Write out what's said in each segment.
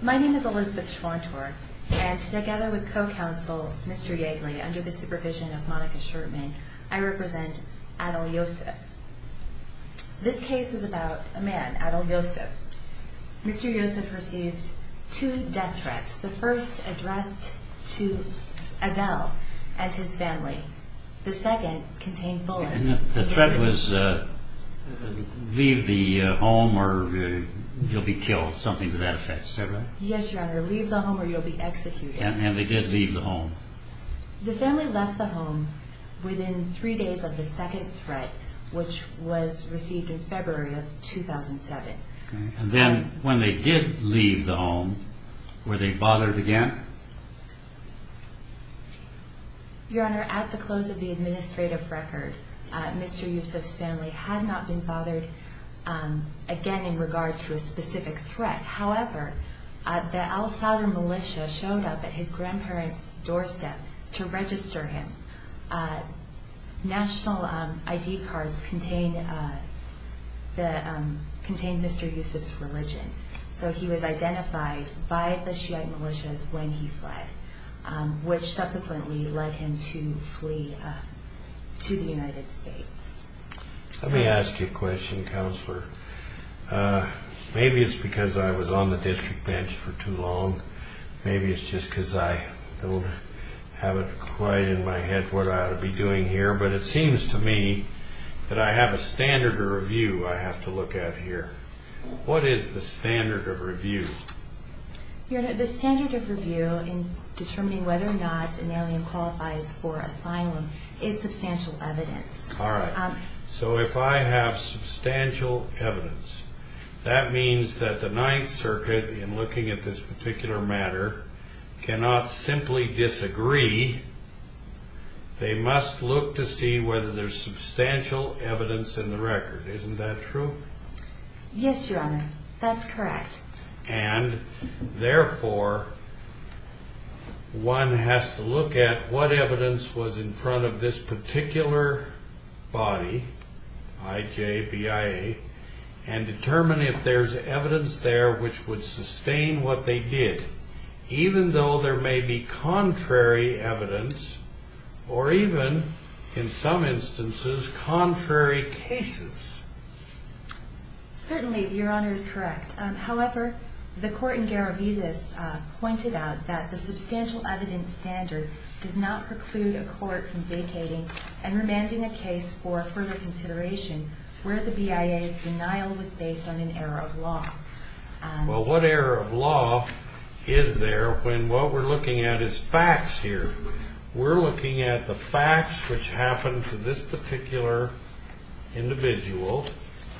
My name is Elizabeth Schwantor, and together with co-counsel Mr. Yegley, under the supervision of Monica Sherman, I represent Adel Yosif. This case is about a man, Adel Yosif. Mr. Yosif received two death threats. The first addressed to Adel and his family. The second contained bullets. And the threat was leave the home or you'll be killed, something to that effect, is that right? Yes, Your Honor, leave the home or you'll be executed. And they did leave the home? The family left the home within three days of the second threat, which was received in February of 2007. And then when they did leave the home, were they bothered again? Your Honor, at the close of the administrative record, Mr. Yosif's family had not been bothered again in regard to a specific threat. However, the al-Sadr militia showed up at his grandparents' doorstep to register him. National ID cards contained Mr. Yosif's religion, so he was identified by the Shiite militias when he fled, which subsequently led him to flee to the United States. Let me ask you a question, Counselor. Maybe it's because I was on the district bench for too long. Maybe it's just because I don't have it quite in my head what I ought to be doing here. But it seems to me that I have a standard of review I have to look at here. What is the standard of review? Your Honor, the standard of review in determining whether or not an alien qualifies for asylum is substantial evidence. All right. So if I have substantial evidence, that means that the Ninth Circuit, in looking at this particular matter, cannot simply disagree. They must look to see whether there's substantial evidence in the record. Isn't that true? Yes, Your Honor. That's correct. And therefore, one has to look at what evidence was in front of this particular body, IJBIA, and determine if there's evidence there which would sustain what they did, even though there may be contrary evidence or even, in some instances, contrary cases. Certainly, Your Honor is correct. However, the court in Garavizas pointed out that the substantial evidence standard does not preclude a court from vacating and remanding a case for further consideration where the BIA's denial was based on an error of law. Well, what error of law is there when what we're looking at is facts here? We're looking at the facts which happened to this particular individual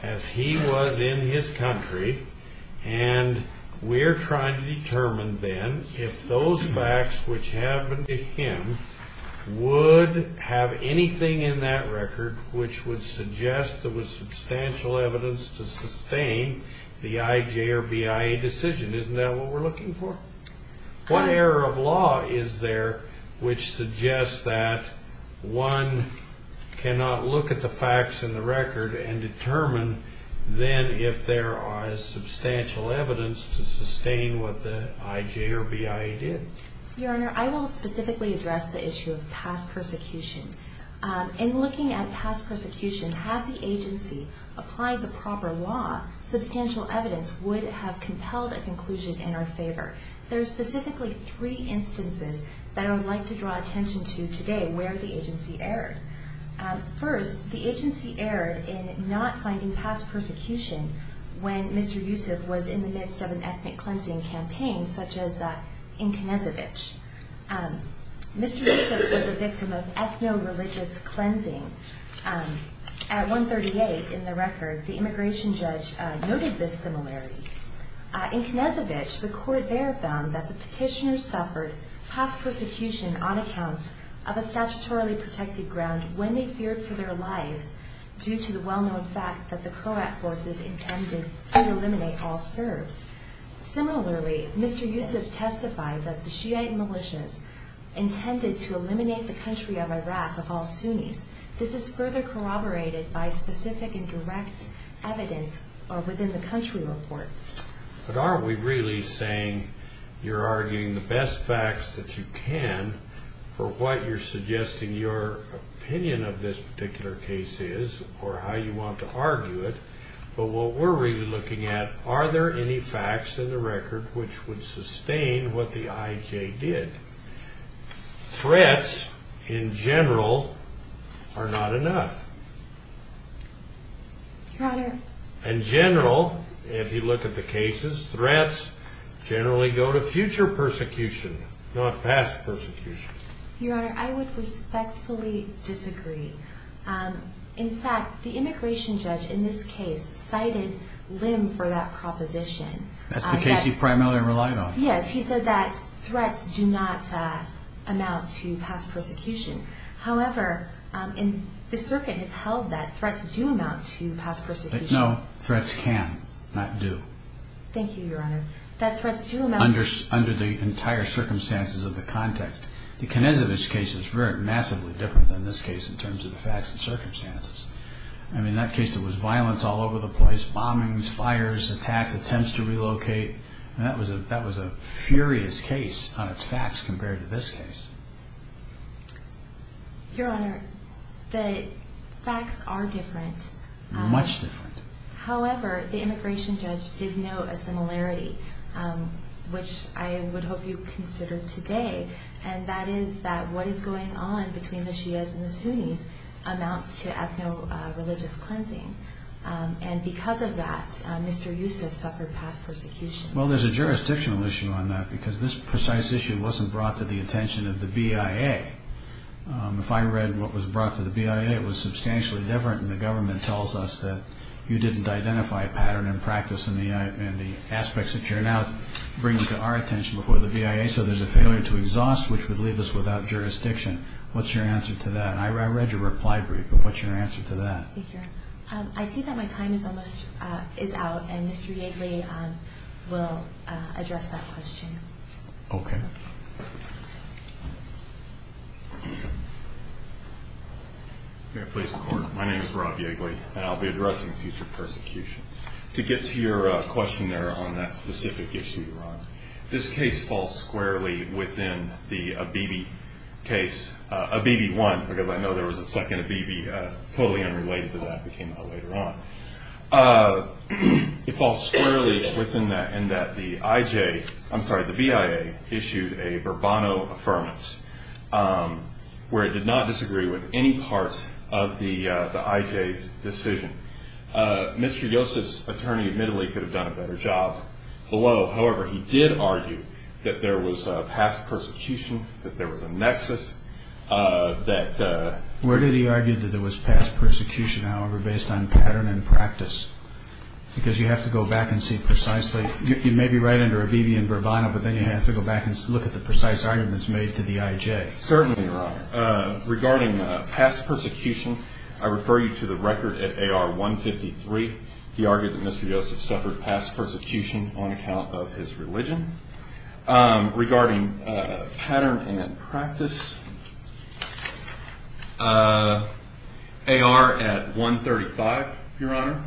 as he was in his country, and we're trying to determine then if those facts which happened to him would have anything in that record which would suggest there was substantial evidence to sustain the IJ or BIA decision. Isn't that what we're looking for? What error of law is there which suggests that one cannot look at the facts in the record and determine then if there is substantial evidence to sustain what the IJ or BIA did? Your Honor, I will specifically address the issue of past persecution. In looking at past persecution, had the agency applied the proper law, substantial evidence would have compelled a conclusion in our favor. However, there are specifically three instances that I would like to draw attention to today where the agency erred. First, the agency erred in not finding past persecution when Mr. Yusuf was in the midst of an ethnic cleansing campaign such as in Knezevich. Mr. Yusuf was a victim of ethno-religious cleansing. At 138 in the record, the immigration judge noted this similarity. In Knezevich, the court there found that the petitioners suffered past persecution on accounts of a statutorily protected ground when they feared for their lives due to the well-known fact that the Croat forces intended to eliminate all Serbs. Similarly, Mr. Yusuf testified that the Shiite militias intended to eliminate the country of Iraq of all Sunnis. This is further corroborated by specific and direct evidence within the country reports. But aren't we really saying you're arguing the best facts that you can for what you're suggesting your opinion of this particular case is or how you want to argue it? But what we're really looking at, are there any facts in the record which would sustain what the IJ did? Threats, in general, are not enough. In general, if you look at the cases, threats generally go to future persecution, not past persecution. Your Honor, I would respectfully disagree. In fact, the immigration judge in this case cited Lim for that proposition. That's the case he primarily relied on? Yes, he said that threats do not amount to past persecution. However, the circuit has held that threats do amount to past persecution. No, threats can, not do. Thank you, Your Honor. Under the entire circumstances of the context. The Knezovic case is very massively different than this case in terms of the facts and circumstances. I mean, that case, there was violence all over the place, bombings, fires, attacks, attempts to relocate. That was a furious case on its facts compared to this case. Your Honor, the facts are different. Much different. However, the immigration judge did note a similarity, which I would hope you consider today. And that is that what is going on between the Shias and the Sunnis amounts to ethno-religious cleansing. And because of that, Mr. Yusuf suffered past persecution. Well, there's a jurisdictional issue on that because this precise issue wasn't brought to the attention of the BIA. If I read what was brought to the BIA, it was substantially different. And the government tells us that you didn't identify a pattern in practice in the aspects that you're now bringing to our attention before the BIA. So there's a failure to exhaust, which would leave us without jurisdiction. What's your answer to that? I read your reply brief, but what's your answer to that? Thank you, Your Honor. I see that my time is out, and Mr. Yigley will address that question. Okay. May I please record? My name is Rob Yigley, and I'll be addressing future persecution. To get to your question there on that specific issue, Your Honor, this case falls squarely within the Abebe case, Abebe I, because I know there was a second Abebe totally unrelated to that that came out later on. It falls squarely within that in that the IJ – I'm sorry, the BIA issued a Bourbonno Affirmative, where it did not disagree with any parts of the IJ's decision. Mr. Yosef's attorney admittedly could have done a better job below. However, he did argue that there was past persecution, that there was a nexus, that – Where did he argue that there was past persecution, however, based on pattern and practice? Because you have to go back and see precisely – you may be right under Abebe and Bourbonno, but then you have to go back and look at the precise arguments made to the IJ. Certainly, Your Honor. Regarding past persecution, I refer you to the record at AR 153. He argued that Mr. Yosef suffered past persecution on account of his religion. Regarding pattern and practice, AR at 135, Your Honor,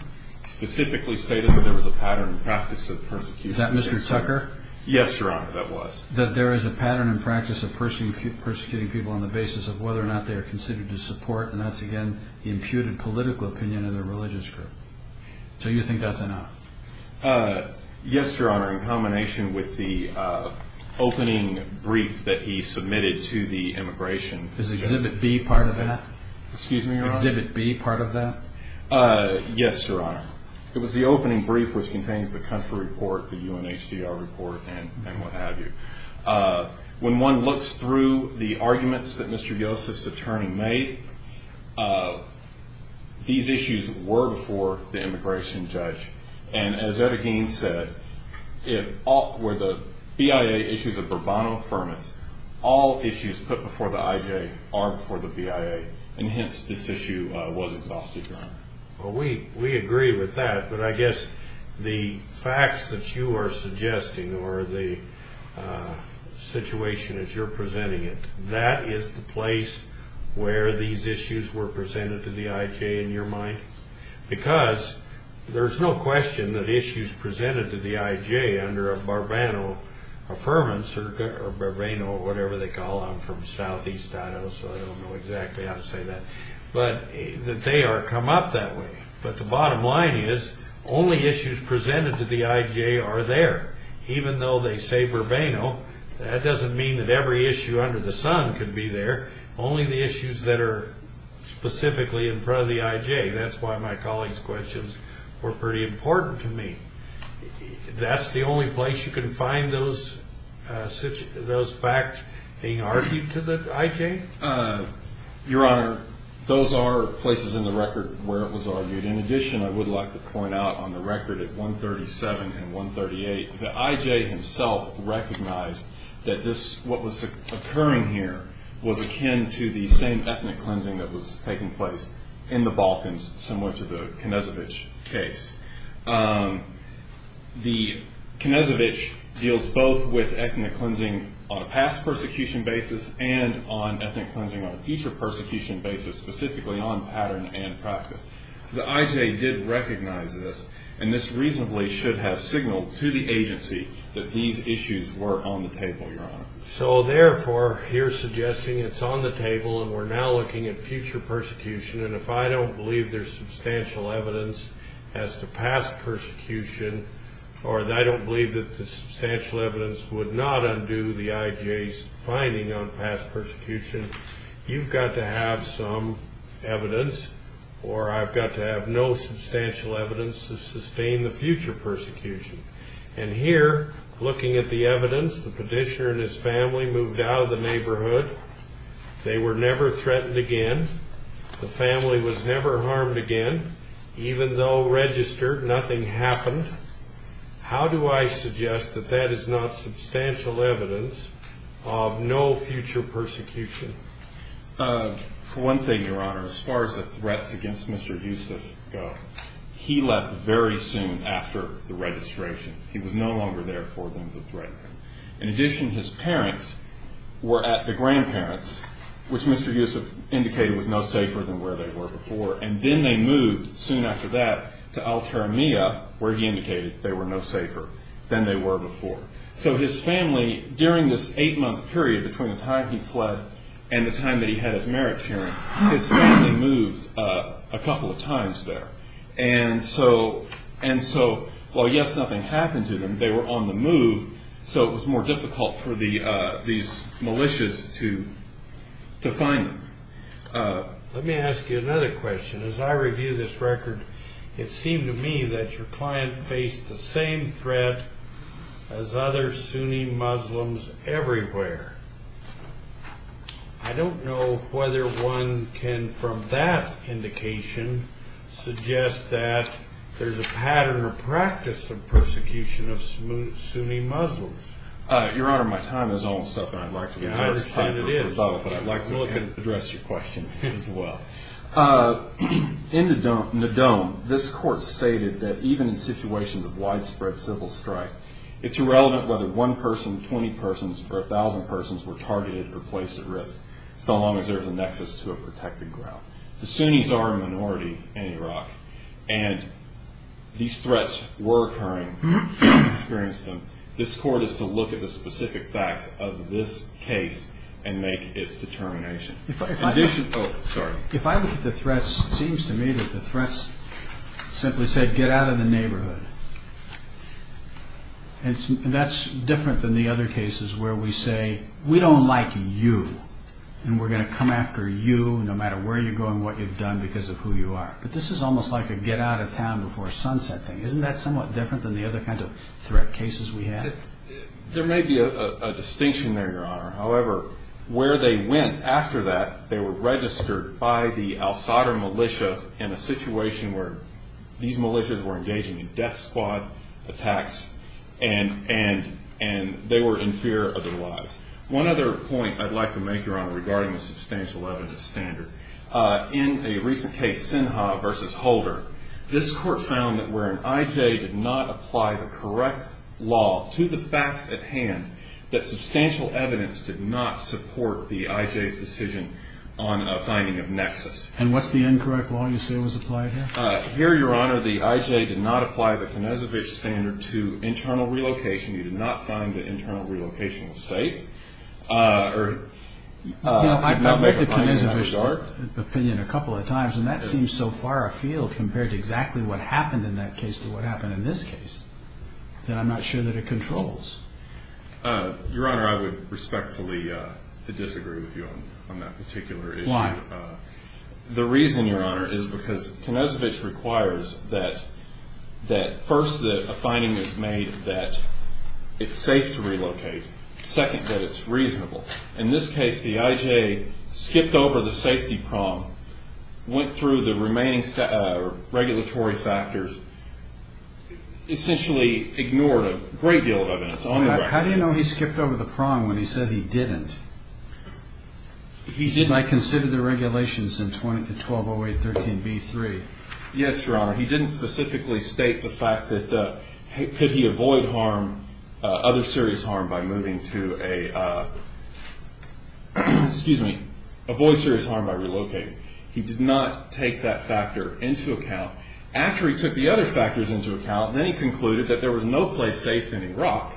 specifically stated that there was a pattern and practice of persecution. Is that Mr. Tucker? Yes, Your Honor, that was. That there is a pattern and practice of persecuting people on the basis of whether or not they are considered to support, and that's, again, the imputed political opinion of their religious group. So you think that's enough? Yes, Your Honor, in combination with the opening brief that he submitted to the immigration judge. Is Exhibit B part of that? Excuse me, Your Honor? Is Exhibit B part of that? Yes, Your Honor. It was the opening brief, which contains the country report, the UNHCR report, and what have you. When one looks through the arguments that Mr. Yosef's attorney made, these issues were before the immigration judge. And as Etta Gaines said, where the BIA issues a bravado affirmance, all issues put before the IJ are before the BIA, and hence this issue was exhausted, Your Honor. Well, we agree with that, but I guess the facts that you are suggesting or the situation as you're presenting it, that is the place where these issues were presented to the IJ, in your mind. Because there's no question that issues presented to the IJ under a bravado affirmance, or bravado or whatever they call them, from southeast Idaho, so I don't know exactly how to say that, but that they are come up that way. But the bottom line is, only issues presented to the IJ are there. Even though they say bravado, that doesn't mean that every issue under the sun can be there. Only the issues that are specifically in front of the IJ. That's why my colleague's questions were pretty important to me. That's the only place you can find those facts being argued to the IJ? Your Honor, those are places in the record where it was argued. In addition, I would like to point out on the record at 137 and 138, the IJ himself recognized that this, what was occurring here, was akin to the same ethnic cleansing that was taking place in the Balkans, similar to the Knezevich case. The Knezevich deals both with ethnic cleansing on a past persecution basis and on ethnic cleansing on a future persecution basis, specifically on pattern and practice. The IJ did recognize this, and this reasonably should have signaled to the agency that these issues were on the table, Your Honor. So therefore, you're suggesting it's on the table and we're now looking at future persecution, and if I don't believe there's substantial evidence as to past persecution, or I don't believe that the substantial evidence would not undo the IJ's finding on past persecution, you've got to have some evidence, or I've got to have no substantial evidence to sustain the future persecution. And here, looking at the evidence, the petitioner and his family moved out of the neighborhood. They were never threatened again. The family was never harmed again. Even though registered, nothing happened. How do I suggest that that is not substantial evidence of no future persecution? For one thing, Your Honor, as far as the threats against Mr. Yusuf go, he left very soon after the registration. He was no longer there for them to threaten him. In addition, his parents were at the grandparents, which Mr. Yusuf indicated was no safer than where they were before, and then they moved soon after that to Al-Taramiya, where he indicated they were no safer than they were before. So his family, during this eight-month period between the time he fled and the time that he had his merits hearing, his family moved a couple of times there. And so while, yes, nothing happened to them, they were on the move, so it was more difficult for these militias to find them. Let me ask you another question. As I review this record, it seemed to me that your client faced the same threat as other Sunni Muslims everywhere. I don't know whether one can, from that indication, suggest that there's a pattern or practice of persecution of Sunni Muslims. Your Honor, my time is almost up, and I'd like to be first. Well, I could address your question as well. In the dome, this court stated that even in situations of widespread civil strife, it's irrelevant whether one person, 20 persons, or 1,000 persons were targeted or placed at risk, so long as there's a nexus to a protected ground. The Sunnis are a minority in Iraq, and these threats were occurring. This court is to look at the specific facts of this case and make its determination. If I look at the threats, it seems to me that the threats simply said, get out of the neighborhood, and that's different than the other cases where we say, we don't like you, and we're going to come after you no matter where you go and what you've done because of who you are. But this is almost like a get out of town before sunset thing. Isn't that somewhat different than the other kinds of threat cases we had? There may be a distinction there, Your Honor. However, where they went after that, they were registered by the al-Sadr militia in a situation where these militias were engaging in death squad attacks, and they were in fear of their lives. One other point I'd like to make, Your Honor, regarding the substantial evidence standard. In a recent case, Sinha v. Holder, this court found that where an I.J. did not apply the correct law to the facts at hand, that substantial evidence did not support the I.J.'s decision on a finding of nexus. And what's the incorrect law you say was applied here? Here, Your Honor, the I.J. did not apply the Konezovich standard to internal relocation. He did not find that internal relocation was safe. I've looked at Konezovich's opinion a couple of times, and that seems so far afield compared to exactly what happened in that case to what happened in this case that I'm not sure that it controls. Your Honor, I would respectfully disagree with you on that particular issue. Why? The reason, Your Honor, is because Konezovich requires that first a finding is made that it's safe to relocate, second that it's reasonable. In this case, the I.J. skipped over the safety prong, went through the remaining regulatory factors, essentially ignored a great deal of evidence on the ground. How do you know he skipped over the prong when he says he didn't? He said, I considered the regulations in 1208.13b.3. Yes, Your Honor. He didn't specifically state the fact that could he avoid harm, other serious harm by moving to a, excuse me, avoid serious harm by relocating. He did not take that factor into account. After he took the other factors into account, then he concluded that there was no place safe in Iraq,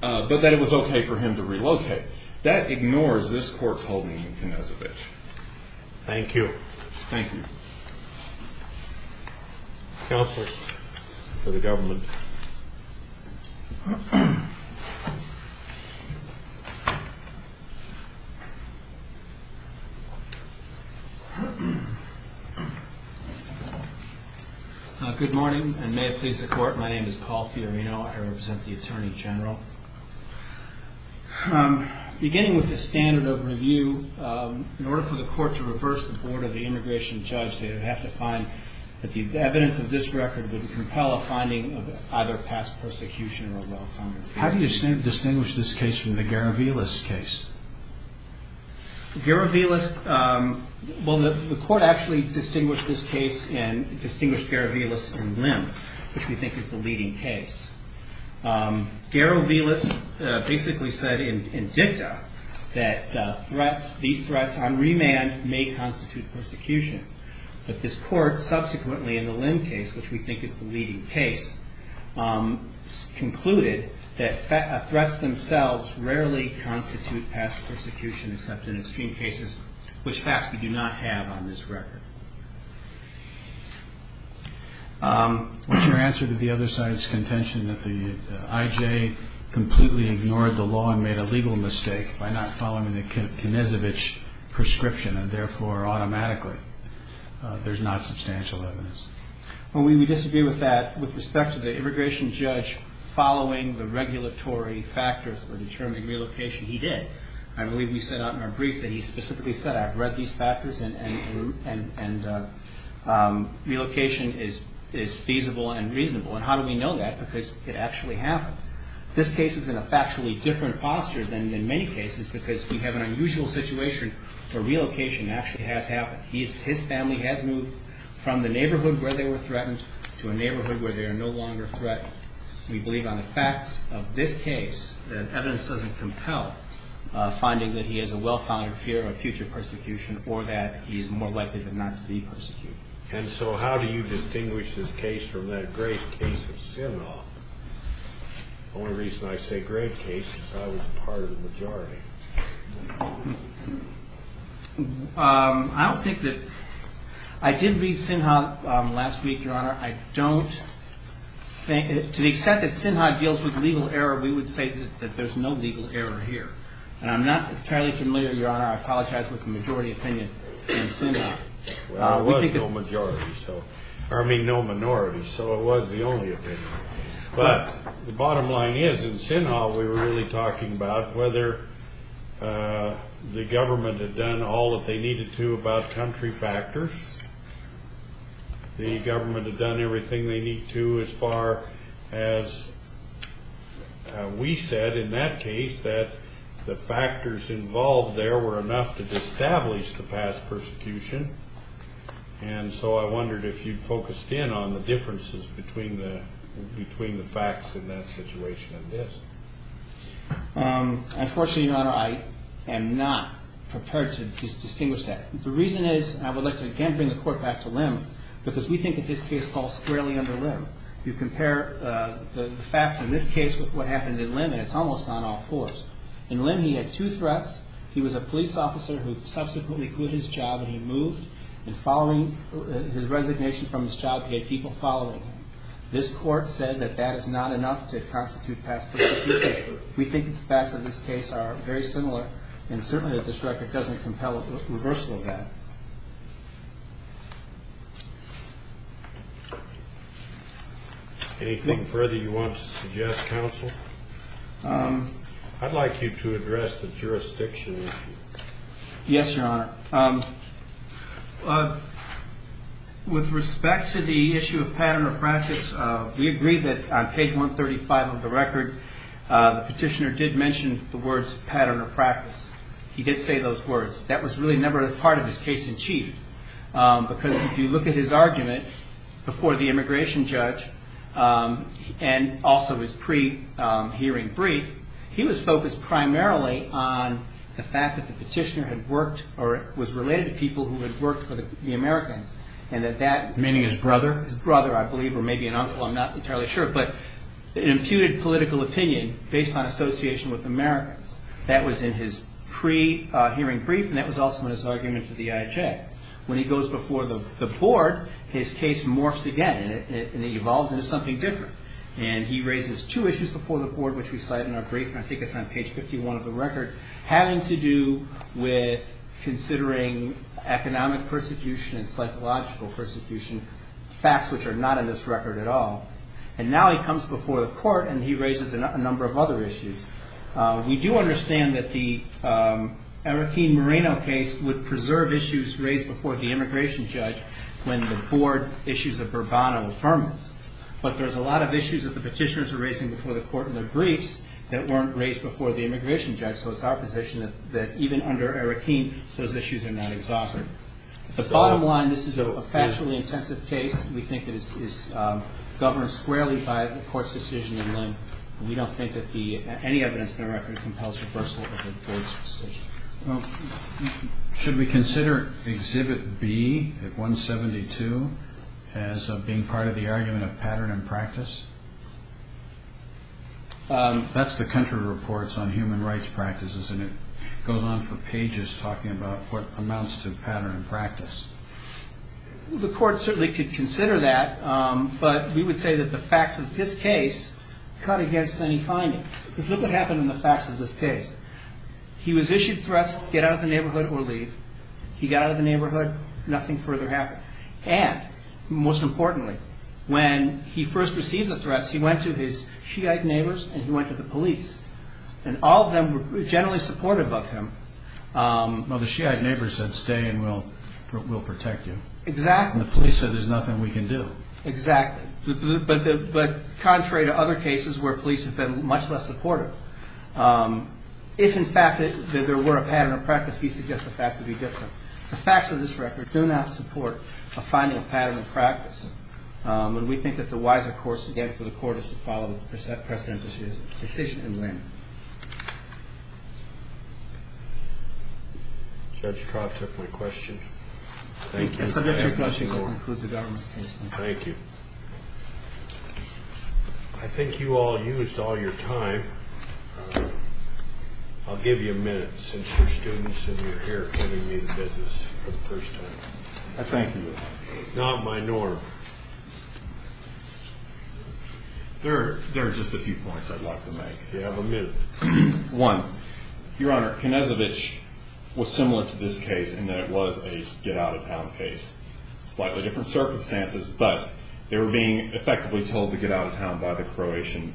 but that it was okay for him to relocate. That ignores this Court's holding in Konezovich. Thank you. Thank you. Counsel for the government. Good morning, and may it please the Court. My name is Paul Fiorino. I represent the Attorney General. Beginning with the standard of review, in order for the Court to reverse the board of the immigration judge, it would have to find that the evidence of this record would compel a finding of either past persecution or well-founded How do you distinguish this case from the Garovilas case? Garovilas, well, the Court actually distinguished this case, and distinguished Garovilas and Lim, which we think is the leading case. Garovilas basically said in dicta that threats, these threats on remand may constitute persecution. But this Court, subsequently in the Lim case, which we think is the leading case, concluded that threats themselves rarely constitute past persecution, except in extreme cases, which facts we do not have on this record. What's your answer to the other side's contention that the IJ completely ignored the law and made a legal mistake by not following the Knezevich prescription, and therefore automatically there's not substantial evidence? Well, we disagree with that. With respect to the immigration judge following the regulatory factors for determining relocation, he did. I believe we set out in our brief that he specifically said, I've read these factors and relocation is feasible and reasonable. And how do we know that? Because it actually happened. This case is in a factually different posture than in many cases because we have an unusual situation where relocation actually has happened. His family has moved from the neighborhood where they were threatened to a neighborhood where they are no longer threatened. We believe on the facts of this case that evidence doesn't compel finding that he has a well-founded fear of future persecution or that he's more likely than not to be persecuted. And so how do you distinguish this case from that grave case of Sinha? The only reason I say grave case is I was part of the majority. I don't think that – I did read Sinha last week, Your Honor. I don't – to the extent that Sinha deals with legal error, we would say that there's no legal error here. And I'm not entirely familiar, Your Honor, I apologize, with the majority opinion in Sinha. There was no majority, so – or I mean no minority, so it was the only opinion. But the bottom line is in Sinha we were really talking about whether the government had done all that they needed to about country factors. The government had done everything they need to as far as we said in that case that the factors involved there were enough to establish the past persecution. And so I wondered if you'd focused in on the differences between the facts in that situation and this. Unfortunately, Your Honor, I am not prepared to distinguish that. The reason is – and I would like to again bring the Court back to Lim, because we think that this case falls squarely under Lim. You compare the facts in this case with what happened in Lim, and it's almost on all fours. In Lim he had two threats. He was a police officer who subsequently quit his job and he moved. And following his resignation from his job, he had people following him. This Court said that that is not enough to constitute past persecution. We think the facts of this case are very similar, and certainly this record doesn't compel a reversal of that. Anything further you want to suggest, Counsel? I'd like you to address the jurisdiction issue. Yes, Your Honor. With respect to the issue of pattern of practice, we agree that on page 135 of the record, the petitioner did mention the words pattern of practice. He did say those words. That was really never a part of his case in chief, because if you look at his argument before the immigration judge and also his pre-hearing brief, he was focused primarily on the fact that the petitioner had worked or was related to people who had worked for the Americans. Meaning his brother? His brother, I believe, or maybe an uncle. I'm not entirely sure. But it imputed political opinion based on association with Americans. That was in his pre-hearing brief, and that was also in his argument to the IHA. When he goes before the Board, his case morphs again, and it evolves into something different. And he raises two issues before the Board, which we cite in our brief, and I think it's on page 51 of the record, having to do with considering economic persecution and psychological persecution, facts which are not in this record at all. And now he comes before the Court, and he raises a number of other issues. We do understand that the Arakeen-Moreno case would preserve issues raised before the immigration judge when the Board issues a Bourbano affirmance. But there's a lot of issues that the petitioners are raising before the Court in their briefs that weren't raised before the immigration judge. So it's our position that even under Arakeen, those issues are not exhausted. The bottom line, this is a factually intensive case. We think it is governed squarely by the Court's decision, and we don't think that any evidence in the record compels reversal of the Board's decision. Should we consider Exhibit B at 172 as being part of the argument of pattern and practice? That's the country reports on human rights practices, and it goes on for pages talking about what amounts to pattern and practice. The Court certainly could consider that, but we would say that the facts of this case cut against any finding. Because look what happened in the facts of this case. He was issued threats, get out of the neighborhood or leave. He got out of the neighborhood, nothing further happened. And most importantly, when he first received the threats, he went to his Shiite neighbors and he went to the police. And all of them were generally supportive of him. Well, the Shiite neighbors said, stay and we'll protect you. Exactly. And the police said there's nothing we can do. Exactly. But contrary to other cases where police have been much less supportive, if, in fact, there were a pattern of practice, we suggest the facts would be different. The facts of this record do not support a finding of pattern and practice. And we think that the wiser course, again, for the Court is to follow its precedent decision and win. Judge Traub took my question. Thank you. I submit your question, Your Honor. This concludes the government's case. Thank you. I think you all used all your time. I'll give you a minute since you're students and you're here giving me the business for the first time. I thank you, Your Honor. Not my norm. There are just a few points I'd like to make. You have a minute. One, Your Honor, Knezovic was similar to this case in that it was a get-out-of-town case. Slightly different circumstances, but they were being effectively told to get out of town by the Croatian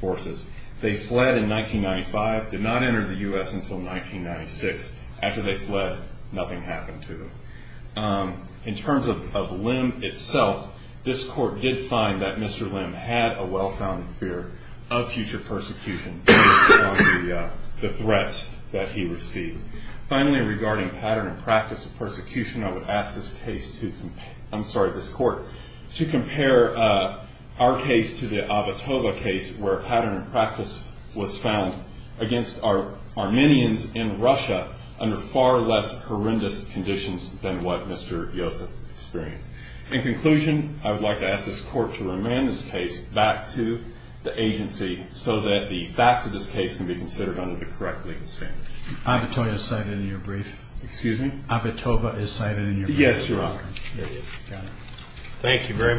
forces. They fled in 1995, did not enter the U.S. until 1996. After they fled, nothing happened to them. In terms of Lim itself, this Court did find that Mr. Lim had a well-founded fear of future persecution based on the threats that he received. Finally, regarding pattern and practice of persecution, I would ask this Court to compare our case to the Avotoba case, where pattern and practice was found against Armenians in Russia under far less horrendous conditions than what Mr. Yosef experienced. In conclusion, I would like to ask this Court to remand this case back to the agency so that the facts of this case can be considered under the correct legal standards. Avotoba is cited in your brief. Excuse me? Avotoba is cited in your brief. Yes, Your Honor. Thank you very much.